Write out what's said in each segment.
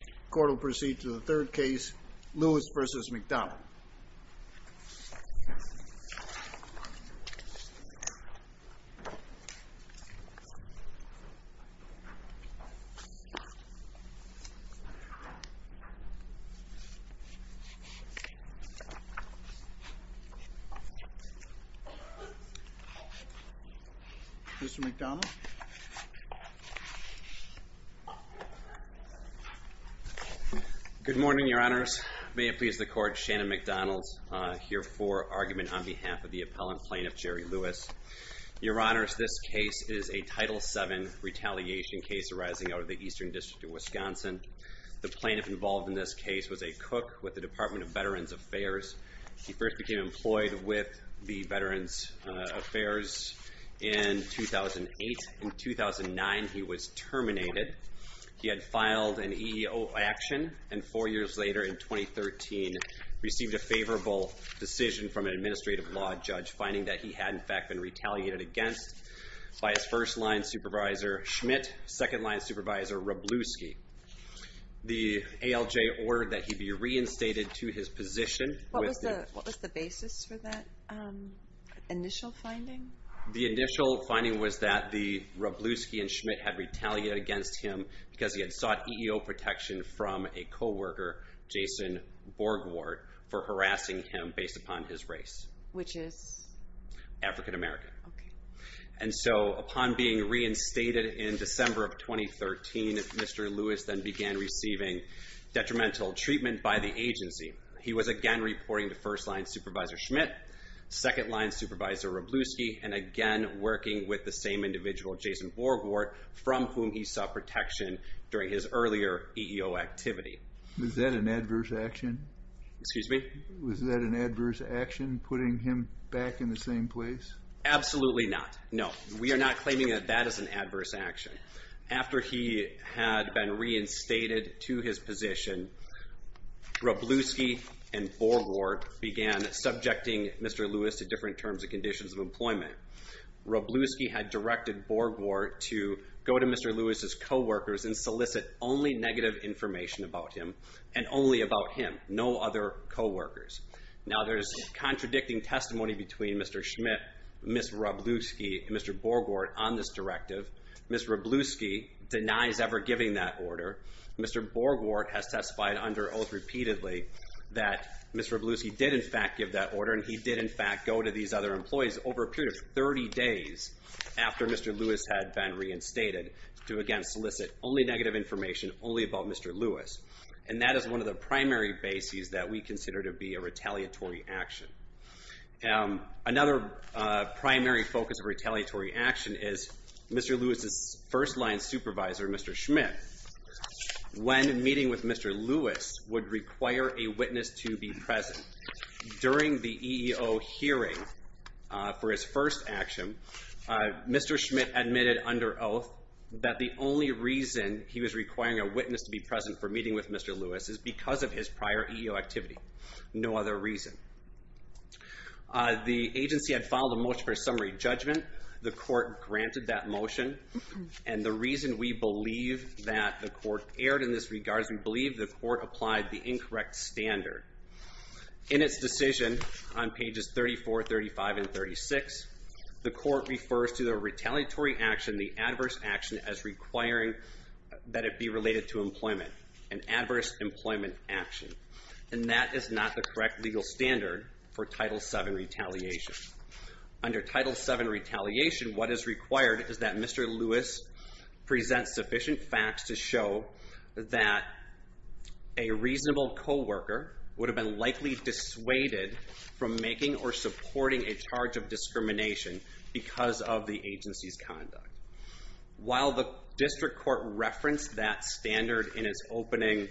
The court will proceed to the third case, Lewis v. McDonald. Mr. McDonald. Good morning, your honors. May it please the court, Shannon McDonald here for argument on behalf of the appellant, Plaintiff Jerry Lewis. Your honors, this case is a Title VII retaliation case arising out of the Eastern District of Wisconsin. The plaintiff involved in this case was a cook with the Department of Veterans Affairs. He first became employed with the Veterans Affairs in 2008. In 2009, he was terminated. He had filed an EEO action, and four years later, in 2013, received a favorable decision from an administrative law judge, finding that he had, in fact, been retaliated against by his first-line supervisor, Schmidt, second-line supervisor, Robluski. The ALJ ordered that he be reinstated to his position. What was the basis for that initial finding? The initial finding was that the Robluski and Schmidt had retaliated against him because he had sought EEO protection from a co-worker, Jason Borgward, for harassing him based upon his race. Which is? African American. Okay. And so, upon being reinstated in December of 2013, Mr. Lewis then began receiving detrimental treatment by the agency. He was again reporting to first-line supervisor Schmidt, second-line supervisor Robluski, and again working with the same individual, Jason Borgward, from whom he sought protection during his earlier EEO activity. Was that an adverse action? Excuse me? Was that an adverse action, putting him back in the same place? Absolutely not. No. We are not claiming that that is an adverse action. After he had been reinstated to his position, Robluski and Borgward began subjecting Mr. Lewis to different terms and conditions of employment. Robluski had directed Borgward to go to Mr. Lewis's co-workers and solicit only negative information about him and only about him, no other co-workers. Now, there's contradicting testimony between Mr. Schmidt, Ms. Robluski, and Mr. Borgward on this directive. Ms. Robluski denies ever giving that order. Mr. Borgward has testified under oath repeatedly that Ms. Robluski did, in fact, give that order, and he did, in fact, go to these other employees over a period of 30 days after Mr. Lewis had been reinstated to, again, solicit only negative information, only about Mr. Lewis. And that is one of the primary bases that we consider to be a retaliatory action. Another primary focus of retaliatory action is Mr. Lewis's first-line supervisor, Mr. Schmidt, when meeting with Mr. Lewis would require a witness to be present. During the EEO hearing for his first action, Mr. Schmidt admitted under oath that the only reason he was requiring a witness to be present for meeting with Mr. Lewis is because of his prior EEO activity, no other reason. The agency had filed a motion for a summary judgment. The court granted that motion, and the reason we believe that the court erred in this regard is we believe the court applied the incorrect standard. In its decision on pages 34, 35, and 36, the court refers to the retaliatory action, the adverse action, as requiring that it be related to employment, an adverse employment action. And that is not the correct legal standard for Title VII retaliation. Under Title VII retaliation, what is required is that Mr. Lewis presents sufficient facts to show that a reasonable co-worker would have been likely dissuaded from making or supporting a charge of discrimination because of the agency's conduct. While the district court referenced that standard in its opening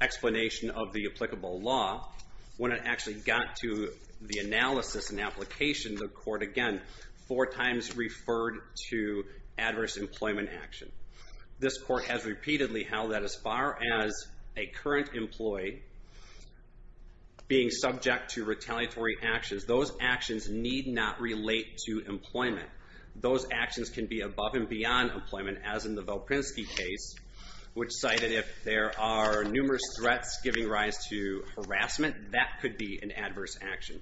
explanation of the applicable law, when it actually got to the analysis and application, the court again four times referred to adverse employment action. This court has repeatedly held that as far as a current employee being subject to retaliatory actions, those actions need not relate to employment. Those actions can be above and beyond employment, as in the Volpinski case, which cited if there are numerous threats giving rise to harassment, that could be an adverse action.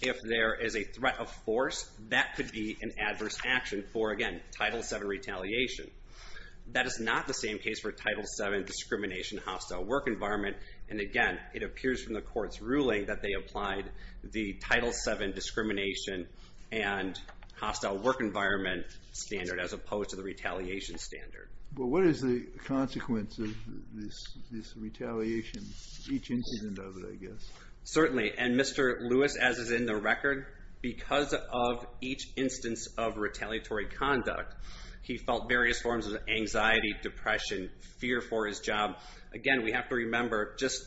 If there is a threat of force, that could be an adverse action for, again, Title VII retaliation. That is not the same case for Title VII discrimination, hostile work environment. And again, it appears from the court's ruling that they applied the Title VII discrimination and hostile work environment standard as opposed to the retaliation standard. But what is the consequence of this retaliation, each incident of it, I guess? Certainly. And Mr. Lewis, as is in the record, because of each instance of retaliatory conduct, he felt various forms of anxiety, depression, fear for his job. Again, we have to remember, just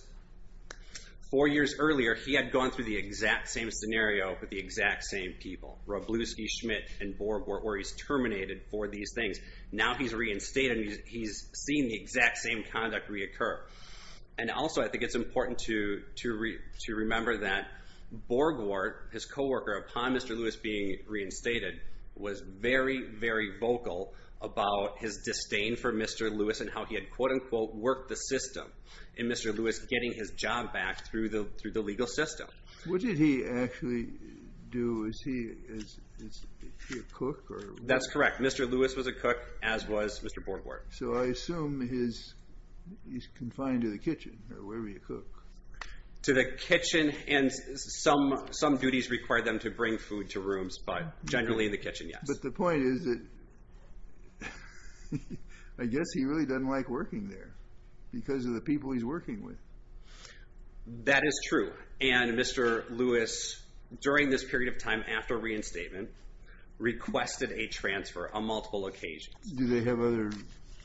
four years earlier, he had gone through the exact same scenario with the exact same people. Wroblewski, Schmidt, and Borg were where he's terminated for these things. Now he's reinstated and he's seen the exact same conduct reoccur. And also, I think it's important to remember that Borgwart, his co-worker, upon Mr. Lewis being reinstated, was very, very vocal about his disdain for Mr. Lewis and how he had, quote, unquote, worked the system in Mr. Lewis getting his job back through the legal system. What did he actually do? Is he a cook? That's correct. Mr. Lewis was a cook, as was Mr. Borgwart. So I assume he's confined to the kitchen, or wherever you cook. To the kitchen, and some duties require them to bring food to rooms, but generally in the kitchen, yes. But the point is that I guess he really doesn't like working there because of the people he's working with. That is true. And Mr. Lewis, during this period of time after reinstatement, requested a transfer on multiple occasions. Do they have other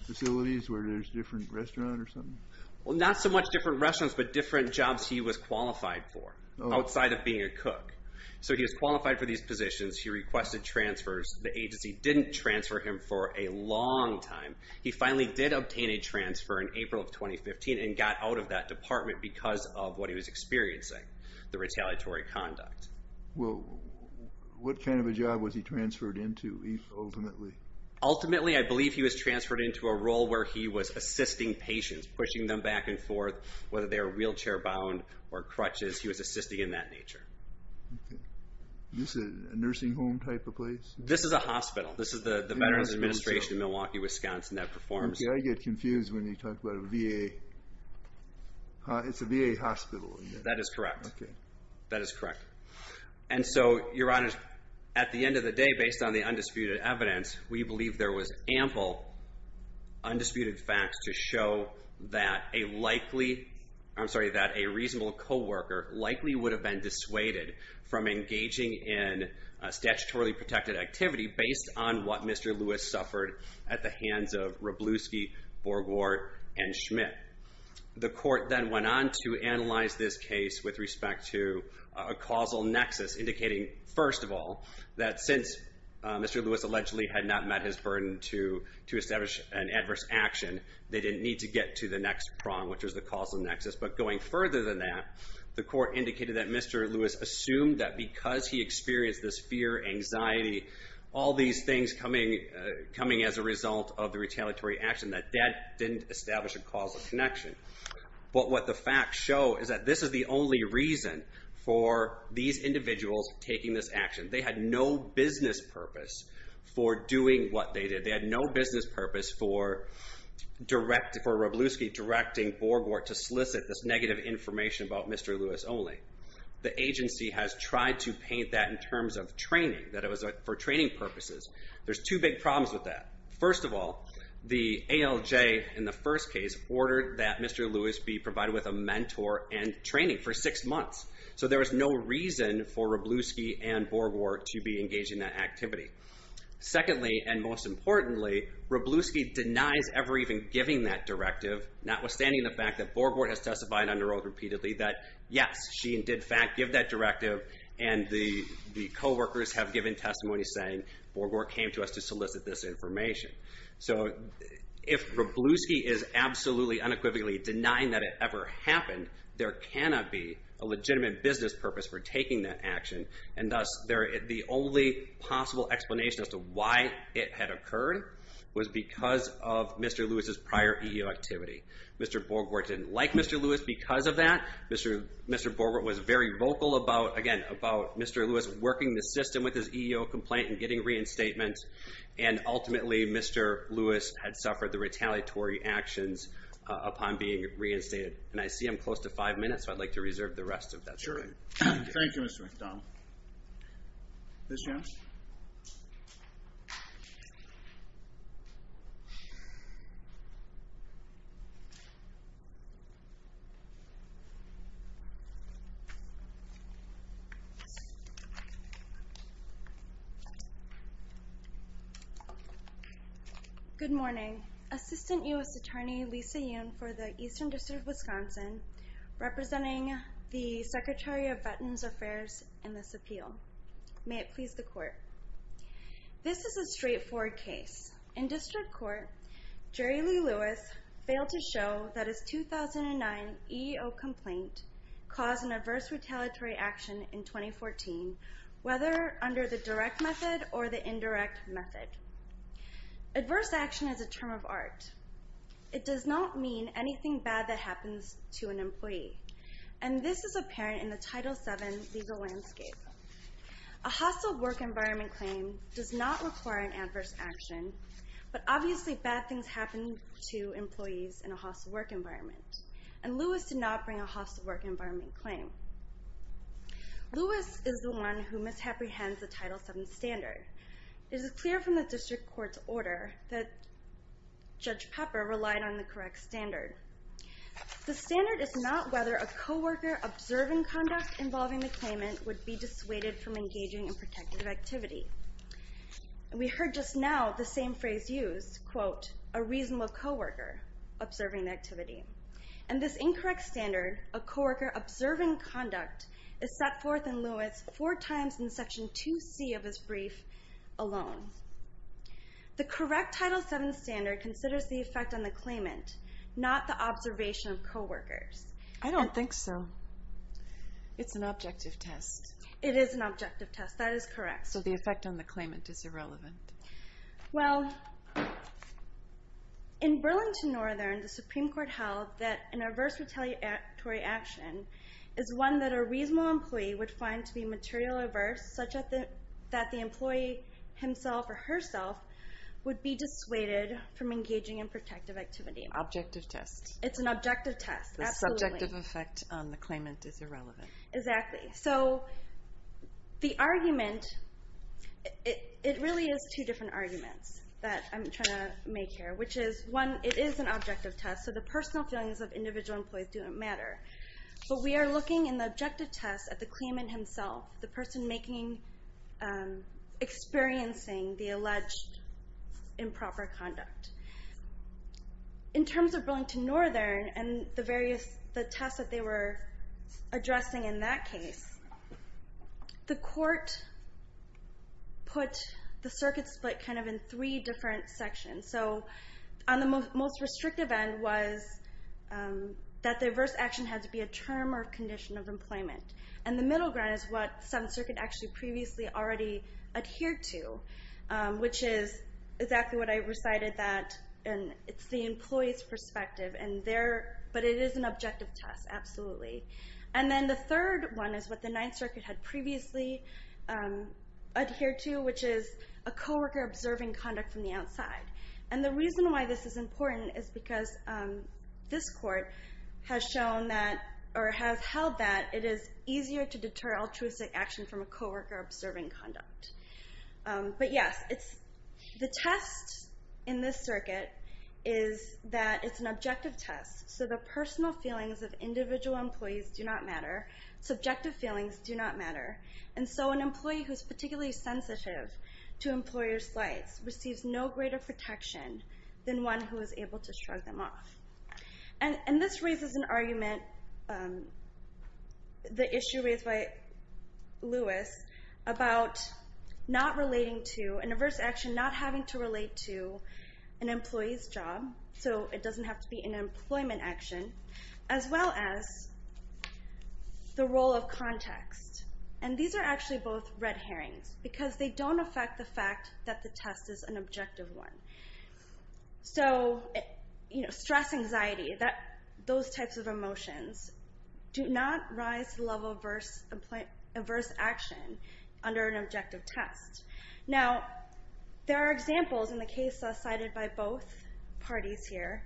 facilities where there's different restaurants or something? Well, not so much different restaurants, but different jobs he was qualified for, outside of being a cook. So he was qualified for these positions. He requested transfers. The agency didn't transfer him for a long time. He finally did obtain a transfer in April of 2015 and got out of that department because of what he was experiencing, the retaliatory conduct. Well, what kind of a job was he transferred into, ultimately? Ultimately, I believe he was transferred into a role where he was assisting patients, pushing them back and forth, whether they were wheelchair-bound or crutches. He was assisting in that nature. Okay. Is this a nursing home type of place? This is a hospital. This is the Veterans Administration in Milwaukee, Wisconsin that performs. Okay. I get confused when you talk about a VA. It's a VA hospital. That is correct. Okay. That is correct. And so, Your Honors, at the end of the day, based on the undisputed evidence, we believe there was ample undisputed facts to show that a likely, I'm sorry, that a reasonable co-worker likely would have been dissuaded from engaging in statutorily protected activity based on what Mr. Lewis suffered at the hands of Wroblewski, Borgwart, and Schmidt. The court then went on to analyze this case with respect to a causal nexus, indicating, first of all, that since Mr. Lewis allegedly had not met his burden to establish an adverse action, they didn't need to get to the next prong, which was the causal nexus. But going further than that, the court indicated that Mr. Lewis assumed that because he experienced this fear, anxiety, all these things coming as a result of the retaliatory action, that that didn't establish a causal connection. But what the facts show is that this is the only reason for these individuals taking this action. They had no business purpose for doing what they did. They had no business purpose for Wroblewski directing Borgwart to solicit this negative information about Mr. Lewis only. The agency has tried to paint that in terms of training, that it was for training purposes. There's two big problems with that. First of all, the ALJ, in the first case, ordered that Mr. Lewis be provided with a mentor and training for six months. So there was no reason for Wroblewski and Borgwart to be engaged in that activity. Secondly, and most importantly, Wroblewski denies ever even giving that directive, notwithstanding the fact that Borgwart has testified under oath repeatedly that, yes, she did in fact give that directive, and the coworkers have given testimony saying, Borgwart came to us to solicit this information. So if Wroblewski is absolutely unequivocally denying that it ever happened, there cannot be a legitimate business purpose for taking that action, and thus the only possible explanation as to why it had occurred was because of Mr. Lewis's prior EEO activity. Mr. Borgwart didn't like Mr. Lewis because of that. Mr. Borgwart was very vocal about, again, about Mr. Lewis working the system with his EEO complaint and getting reinstatement, and ultimately Mr. Lewis had suffered the retaliatory actions upon being reinstated. And I see I'm close to five minutes, so I'd like to reserve the rest of that time. Thank you. Thank you, Mr. McDonald. Ms. Jones? Good morning. Assistant U.S. Attorney Lisa Yoon for the Eastern District of Wisconsin, representing the Secretary of Veterans Affairs in this appeal. May it please the Court. This is a straightforward case. In district court, Jerry Lee Lewis failed to show that his 2009 EEO complaint caused an adverse retaliatory action in 2014, whether under the direct method or the indirect method. Adverse action is a term of art. It does not mean anything bad that happens to an employee, and this is apparent in the Title VII legal landscape. A hostile work environment claim does not require an adverse action, but obviously bad things happen to employees in a hostile work environment, and Lewis did not bring a hostile work environment claim. Lewis is the one who misapprehends the Title VII standard. It is clear from the district court's order that Judge Pepper relied on the correct standard. The standard is not whether a co-worker observing conduct involving the claimant would be dissuaded from engaging in protective activity. We heard just now the same phrase used, quote, a reasonable co-worker observing activity. And this incorrect standard of co-worker observing conduct is set forth in Lewis four times in Section 2C of his brief alone. The correct Title VII standard considers the effect on the claimant, not the observation of co-workers. I don't think so. It's an objective test. It is an objective test. That is correct. So the effect on the claimant is irrelevant. Well, in Burlington Northern, the Supreme Court held that an adverse retaliatory action is one that a reasonable employee would find to be materially adverse, such that the employee himself or herself would be dissuaded from engaging in protective activity. Objective test. It's an objective test, absolutely. The subjective effect on the claimant is irrelevant. Exactly. So the argument, it really is two different arguments that I'm trying to make here, which is, one, it is an objective test, so the personal feelings of individual employees don't matter. But we are looking in the objective test at the claimant himself, the person experiencing the alleged improper conduct. In terms of Burlington Northern and the various tests that they were addressing in that case, the court put the circuit split kind of in three different sections. So on the most restrictive end was that the adverse action had to be a term or condition of employment. And the middle ground is what Seventh Circuit actually previously already adhered to, which is exactly what I recited, and it's the employee's perspective. But it is an objective test, absolutely. And then the third one is what the Ninth Circuit had previously adhered to, which is a co-worker observing conduct from the outside. And the reason why this is important is because this court has shown that, or has held that, it is easier to deter altruistic action from a co-worker observing conduct. But yes, the test in this circuit is that it's an objective test. So the personal feelings of individual employees do not matter. Subjective feelings do not matter. And so an employee who is particularly sensitive to employer's slights receives no greater protection than one who is able to shrug them off. And this raises an argument, the issue raised by Lewis, about not relating to an adverse action, not having to relate to an employee's job, so it doesn't have to be an employment action, as well as the role of context. And these are actually both red herrings because they don't affect the fact that the test is an objective one. So stress, anxiety, those types of emotions do not rise to the level of adverse action under an objective test. Now, there are examples in the case cited by both parties here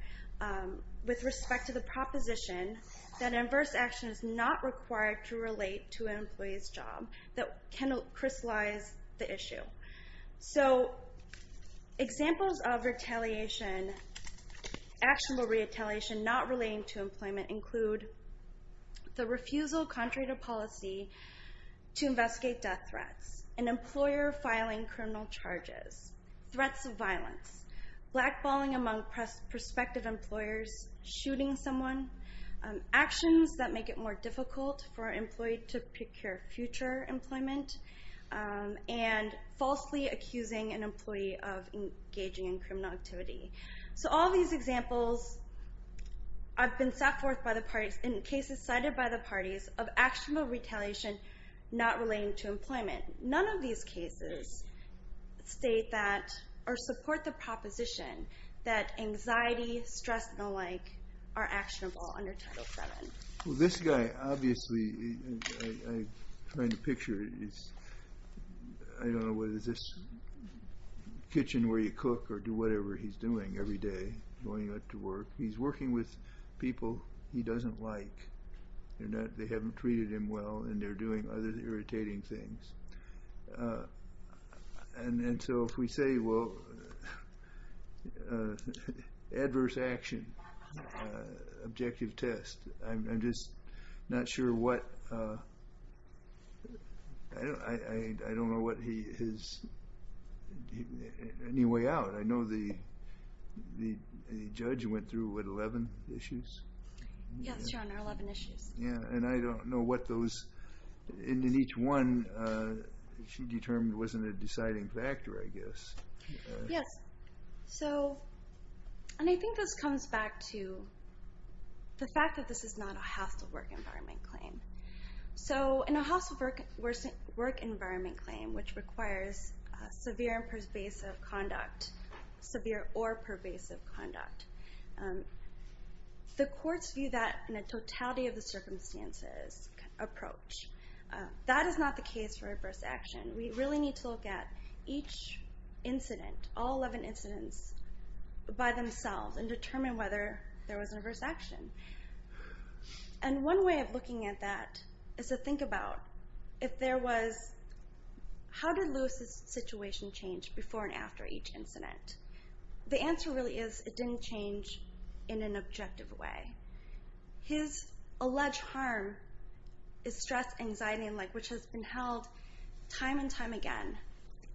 with respect to the proposition that adverse action is not required to relate to an employee's job that can crystallize the issue. So examples of retaliation, actionable retaliation not relating to employment, include the refusal contrary to policy to investigate death threats, an employer filing criminal charges, threats of violence, blackballing among prospective employers, shooting someone, actions that make it more difficult for an employee to procure future employment, and falsely accusing an employee of engaging in criminal activity. So all these examples have been set forth by the parties in cases cited by the parties of actionable retaliation not relating to employment. None of these cases state that or support the proposition that anxiety, stress, and the like are actionable under Title VII. Well, this guy, obviously, I find the picture is, I don't know whether it's this kitchen where you cook or do whatever he's doing every day, going out to work. He's working with people he doesn't like. They haven't treated him well, and they're doing other irritating things. And so if we say, well, adverse action, objective test, I'm just not sure what, I don't know what his, any way out. I know the judge went through what, 11 issues? Yes, Your Honor, 11 issues. Yeah, and I don't know what those, and in each one she determined wasn't a deciding factor, I guess. Yes, so, and I think this comes back to the fact that this is not a hostile work environment claim. So in a hostile work environment claim, which requires severe and pervasive conduct, severe or pervasive conduct, the courts view that in a totality of the circumstances approach. That is not the case for adverse action. We really need to look at each incident, all 11 incidents, by themselves and determine whether there was an adverse action. And one way of looking at that is to think about if there was, how did Lewis' situation change before and after each incident? The answer really is it didn't change in an objective way. His alleged harm is stress, anxiety, and like, which has been held time and time again,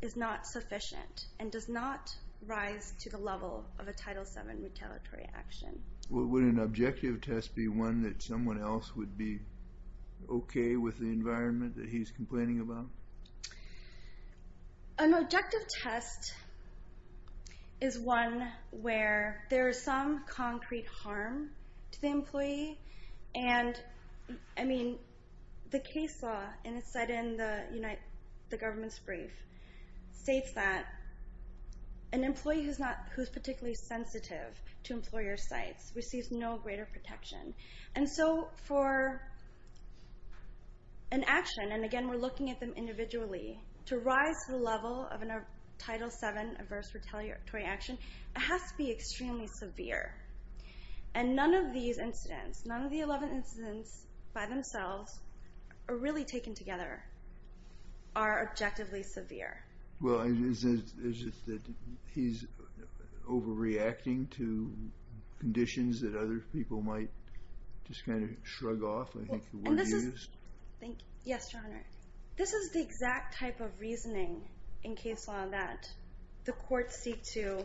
is not sufficient and does not rise to the level of a Title VII retaliatory action. Would an objective test be one that someone else would be okay with the environment that he's complaining about? An objective test is one where there is some concrete harm to the employee. And, I mean, the case law, and it's set in the government's brief, states that an employee who's particularly sensitive to employer sites receives no greater protection. And so for an action, and again, we're looking at them individually, to rise to the level of a Title VII adverse retaliatory action, it has to be extremely severe. And none of these incidents, none of the 11 incidents by themselves, are really taken together, are objectively severe. Well, is it that he's overreacting to conditions that other people might just kind of shrug off? Yes, Your Honor. This is the exact type of reasoning in case law that the courts seek to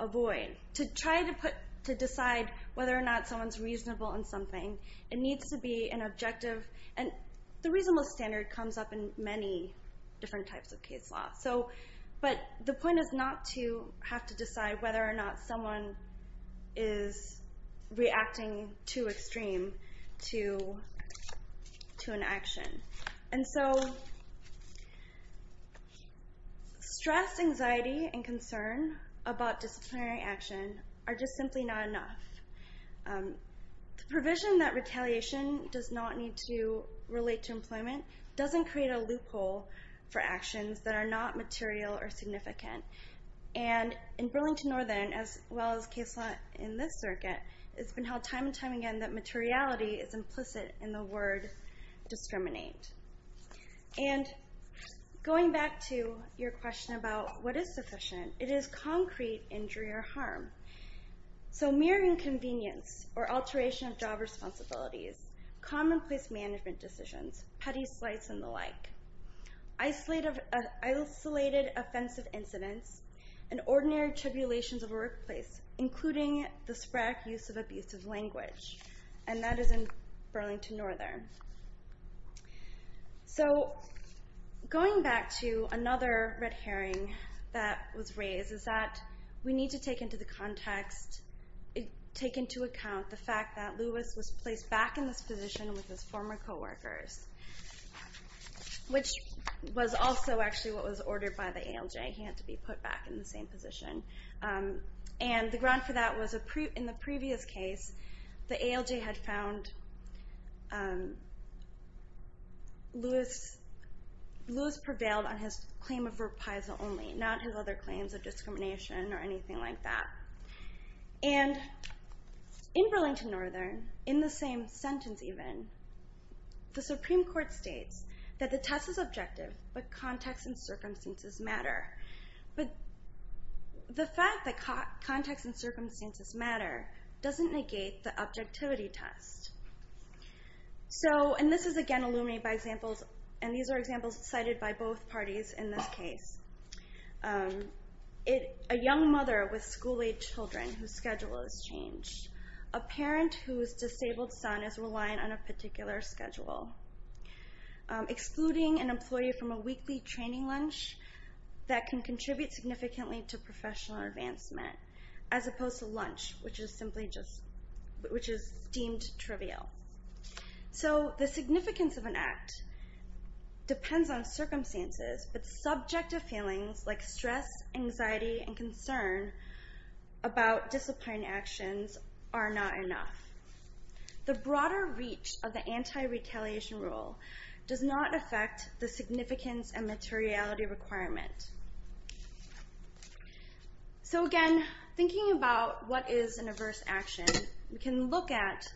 avoid. To try to put, to decide whether or not someone's reasonable in something, it needs to be an objective, and the reasonableness standard comes up in many different types of case law. But the point is not to have to decide whether or not someone is reacting too extreme to an action. And so stress, anxiety, and concern about disciplinary action are just simply not enough. The provision that retaliation does not need to relate to employment doesn't create a loophole for actions that are not material or significant. And in Burlington Northern, as well as case law in this circuit, it's been held time and time again that materiality is implicit in the word discriminate. And going back to your question about what is sufficient, it is concrete injury or harm. So mere inconvenience or alteration of job responsibilities, commonplace management decisions, petty slights and the like, isolated offensive incidents, and ordinary tribulations of a workplace, including the sporadic use of abusive language. And that is in Burlington Northern. So going back to another red herring that was raised is that we need to take into the context, take into account the fact that Lewis was placed back in this position with his former coworkers, which was also actually what was ordered by the ALJ. He had to be put back in the same position. And the ground for that was in the previous case, the ALJ had found Lewis prevailed on his claim of reprisal only, not his other claims of discrimination or anything like that. And in Burlington Northern, in the same sentence even, the Supreme Court states that the test is objective, but context and circumstances matter. But the fact that context and circumstances matter doesn't negate the objectivity test. So, and this is again illuminated by examples, and these are examples cited by both parties in this case. A young mother with school-age children whose schedule has changed. A parent whose disabled son is reliant on a particular schedule. Excluding an employee from a weekly training lunch that can contribute significantly to professional advancement, as opposed to lunch, which is deemed trivial. So the significance of an act depends on circumstances, but subjective feelings like stress, anxiety, and concern about disciplinary actions are not enough. The broader reach of the anti-retaliation rule does not affect the significance and materiality requirement. So again, thinking about what is an adverse action, we can look at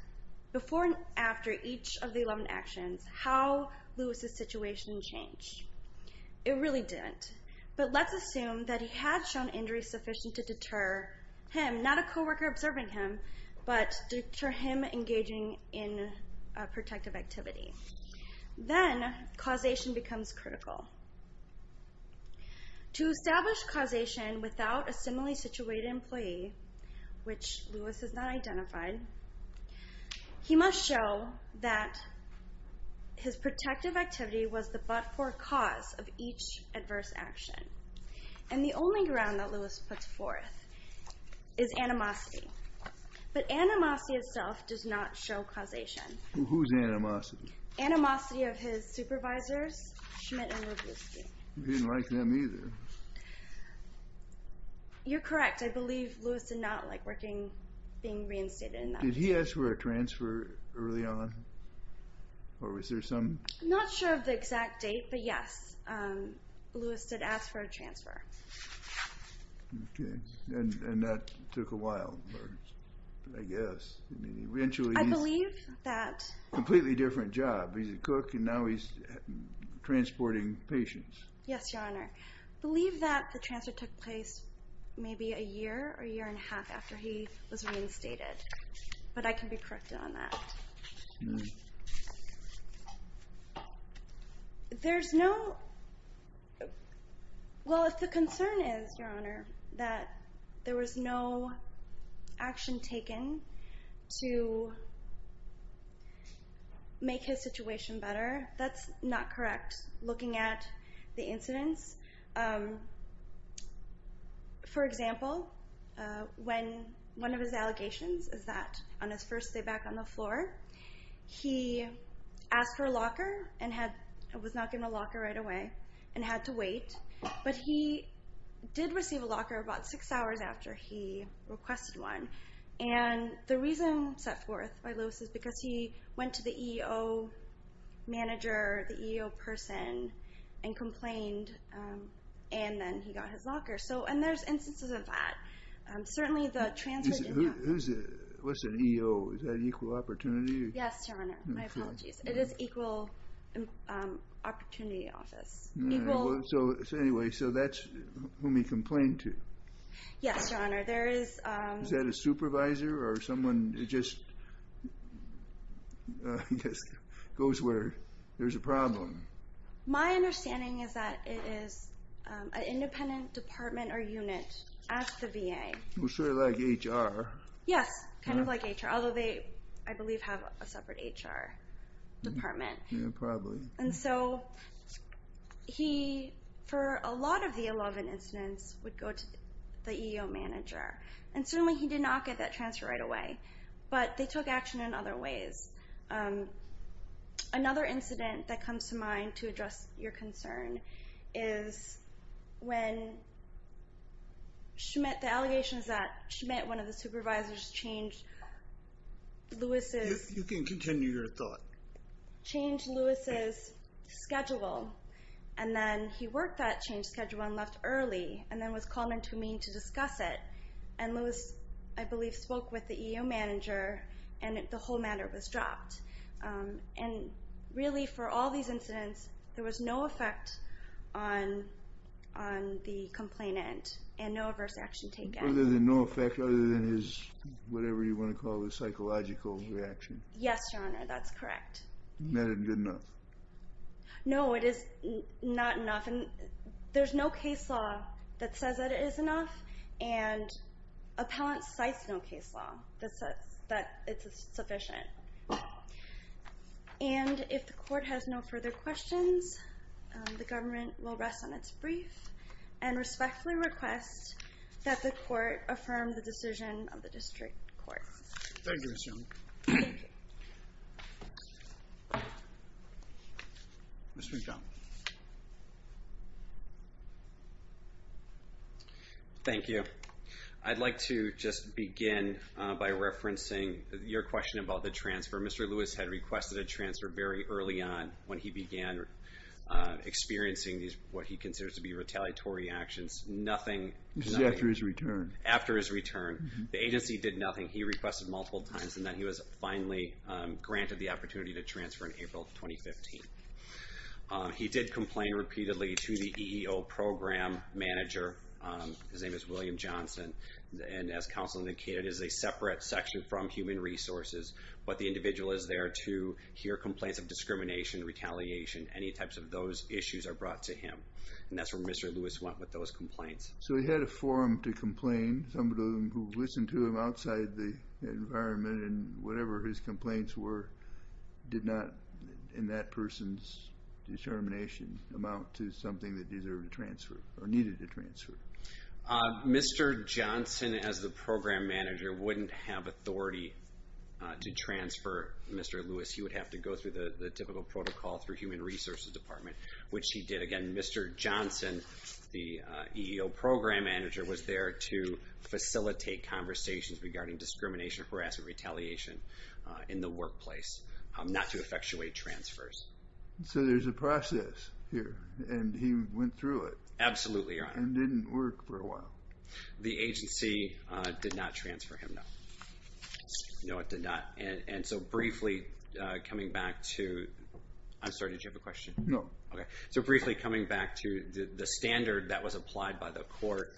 before and after each of the 11 actions, how Lewis' situation changed. It really didn't. But let's assume that he had shown injury sufficient to deter him, not a co-worker observing him, but deter him engaging in a protective activity. Then, causation becomes critical. To establish causation without a similarly situated employee, which Lewis has not identified, he must show that his protective activity was the but-for cause of each adverse action. And the only ground that Lewis puts forth is animosity. But animosity itself does not show causation. Who's animosity? Animosity of his supervisors, Schmidt and Robusti. He didn't like them either. You're correct. I believe Lewis did not like being reinstated in that position. Did he ask for a transfer early on? Or was there some... I'm not sure of the exact date, but yes, Lewis did ask for a transfer. Okay. And that took a while, I guess. I believe that... He did a good job. He's a cook, and now he's transporting patients. Yes, Your Honor. I believe that the transfer took place maybe a year or a year and a half after he was reinstated. But I can be corrected on that. There's no... Well, if the concern is, Your Honor, that there was no action taken to make his situation better, that's not correct looking at the incidents. For example, one of his allegations is that on his first day back on the floor, he asked for a locker and was not given a locker right away and had to wait. But he did receive a locker about six hours after he requested one. And the reason set forth by Lewis is because he went to the EO manager, the EO person, and complained, and then he got his locker. And there's instances of that. Who's the EO? Is that Equal Opportunity? Yes, Your Honor. My apologies. It is Equal Opportunity Office. So anyway, that's whom he complained to. Yes, Your Honor. Is that a supervisor or someone who just goes where there's a problem? My understanding is that it is an independent department or unit at the VA. Sort of like HR. Yes, kind of like HR, although they, I believe, have a separate HR department. Yeah, probably. And so he, for a lot of the 11 incidents, would go to the EO manager. And certainly he did not get that transfer right away. But they took action in other ways. Another incident that comes to mind to address your concern is when Schmidt, the allegations that Schmidt, one of the supervisors, changed Lewis's schedule. You can continue your thought. Changed Lewis's schedule, and then he worked that changed schedule and left early, and then was called in to me to discuss it. And Lewis, I believe, spoke with the EO manager, and the whole matter was dropped. And really, for all these incidents, there was no effect on the complainant and no adverse action taken. Other than no effect, other than his, whatever you want to call it, psychological reaction. Yes, Your Honor, that's correct. Not good enough. No, it is not enough. There's no case law that says that it is enough, and appellant cites no case law that says that it's sufficient. And if the court has no further questions, the government will rest on its brief and respectfully request that the court affirm the decision of the district court. Thank you, Ms. Young. Thank you. Mr. Young. Thank you. I'd like to just begin by referencing your question about the transfer. Mr. Lewis had requested a transfer very early on when he began experiencing what he considers to be retaliatory actions. Nothing. After his return. After his return. The agency did nothing. He requested multiple times, and then he was finally granted the opportunity to transfer in April 2015. He did complain repeatedly to the EEO program manager. His name is William Johnson. And as counsel indicated, it is a separate section from human resources. But the individual is there to hear complaints of discrimination, retaliation, any types of those issues are brought to him. And that's where Mr. Lewis went with those complaints. So he had a forum to complain. Some of them who listened to him outside the environment and whatever his complaints were did not, in that person's determination, amount to something that deserved a transfer or needed a transfer. Mr. Johnson, as the program manager, wouldn't have authority to transfer Mr. Lewis. He would have to go through the typical protocol through human resources department, which he did. But again, Mr. Johnson, the EEO program manager, was there to facilitate conversations regarding discrimination, harassment, retaliation in the workplace not to effectuate transfers. So there's a process here, and he went through it. Absolutely, Your Honor. And didn't work for a while. The agency did not transfer him, no. No, it did not. And so briefly, coming back to – I'm sorry, did you have a question? No. Okay. So briefly, coming back to the standard that was applied by the court,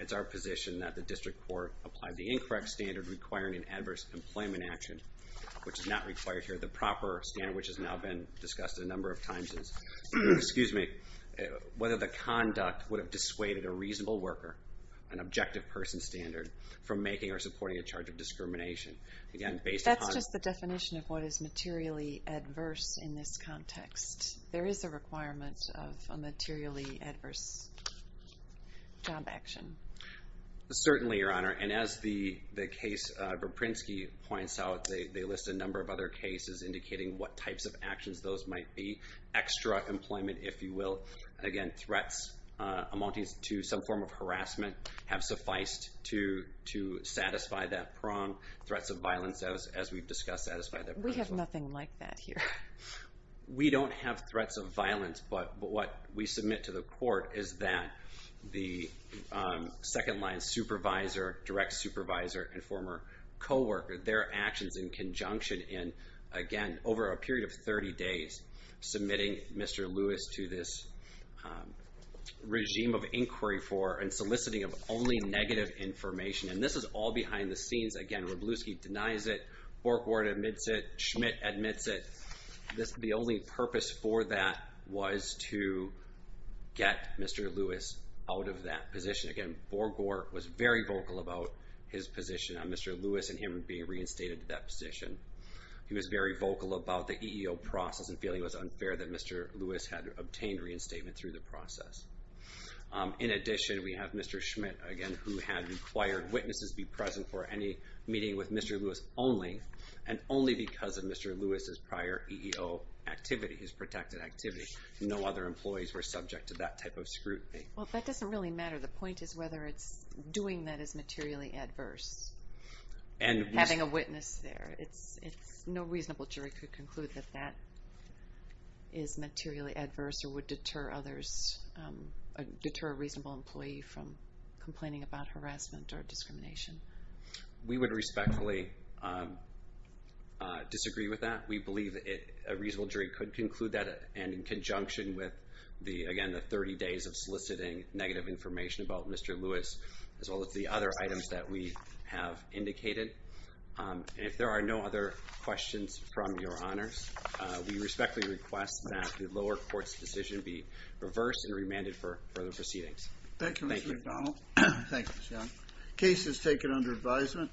it's our position that the district court applied the incorrect standard requiring an adverse employment action, which is not required here. The proper standard, which has now been discussed a number of times, is whether the conduct would have dissuaded a reasonable worker, an objective person standard, from making or supporting a charge of discrimination. That's just the definition of what is materially adverse in this context. There is a requirement of a materially adverse job action. Certainly, Your Honor. And as the case Viprinsky points out, they list a number of other cases indicating what types of actions those might be. Extra employment, if you will. Again, threats amounting to some form of harassment have sufficed to satisfy that prong. Threats of violence, as we've discussed, satisfy that prong. We have nothing like that here. We don't have threats of violence, but what we submit to the court is that the second-line supervisor, direct supervisor, and former co-worker, their actions in conjunction in, again, over a period of 30 days, submitting Mr. Lewis to this regime of inquiry for and soliciting of only negative information. And this is all behind the scenes. Again, Wroblewski denies it. Borgore admits it. Schmidt admits it. The only purpose for that was to get Mr. Lewis out of that position. Again, Borgore was very vocal about his position on Mr. Lewis and him being reinstated to that position. He was very vocal about the EEO process and feeling it was unfair that Mr. Lewis had obtained reinstatement through the process. In addition, we have Mr. Schmidt, again, who had required witnesses be present for any meeting with Mr. Lewis only, and only because of Mr. Lewis's prior EEO activity, his protected activity. No other employees were subject to that type of scrutiny. Well, that doesn't really matter. The point is whether doing that is materially adverse, having a witness there. No reasonable jury could conclude that that is materially adverse or would deter a reasonable employee from complaining about harassment or discrimination. We would respectfully disagree with that. We believe a reasonable jury could conclude that, and in conjunction with, again, the 30 days of soliciting negative information about Mr. Lewis, as well as the other items that we have indicated. If there are no other questions from your honors, we respectfully request that the lower court's decision be reversed and remanded for further proceedings. Thank you. Thank you, Mr. McDonald. Thank you, John. Case is taken under advisement.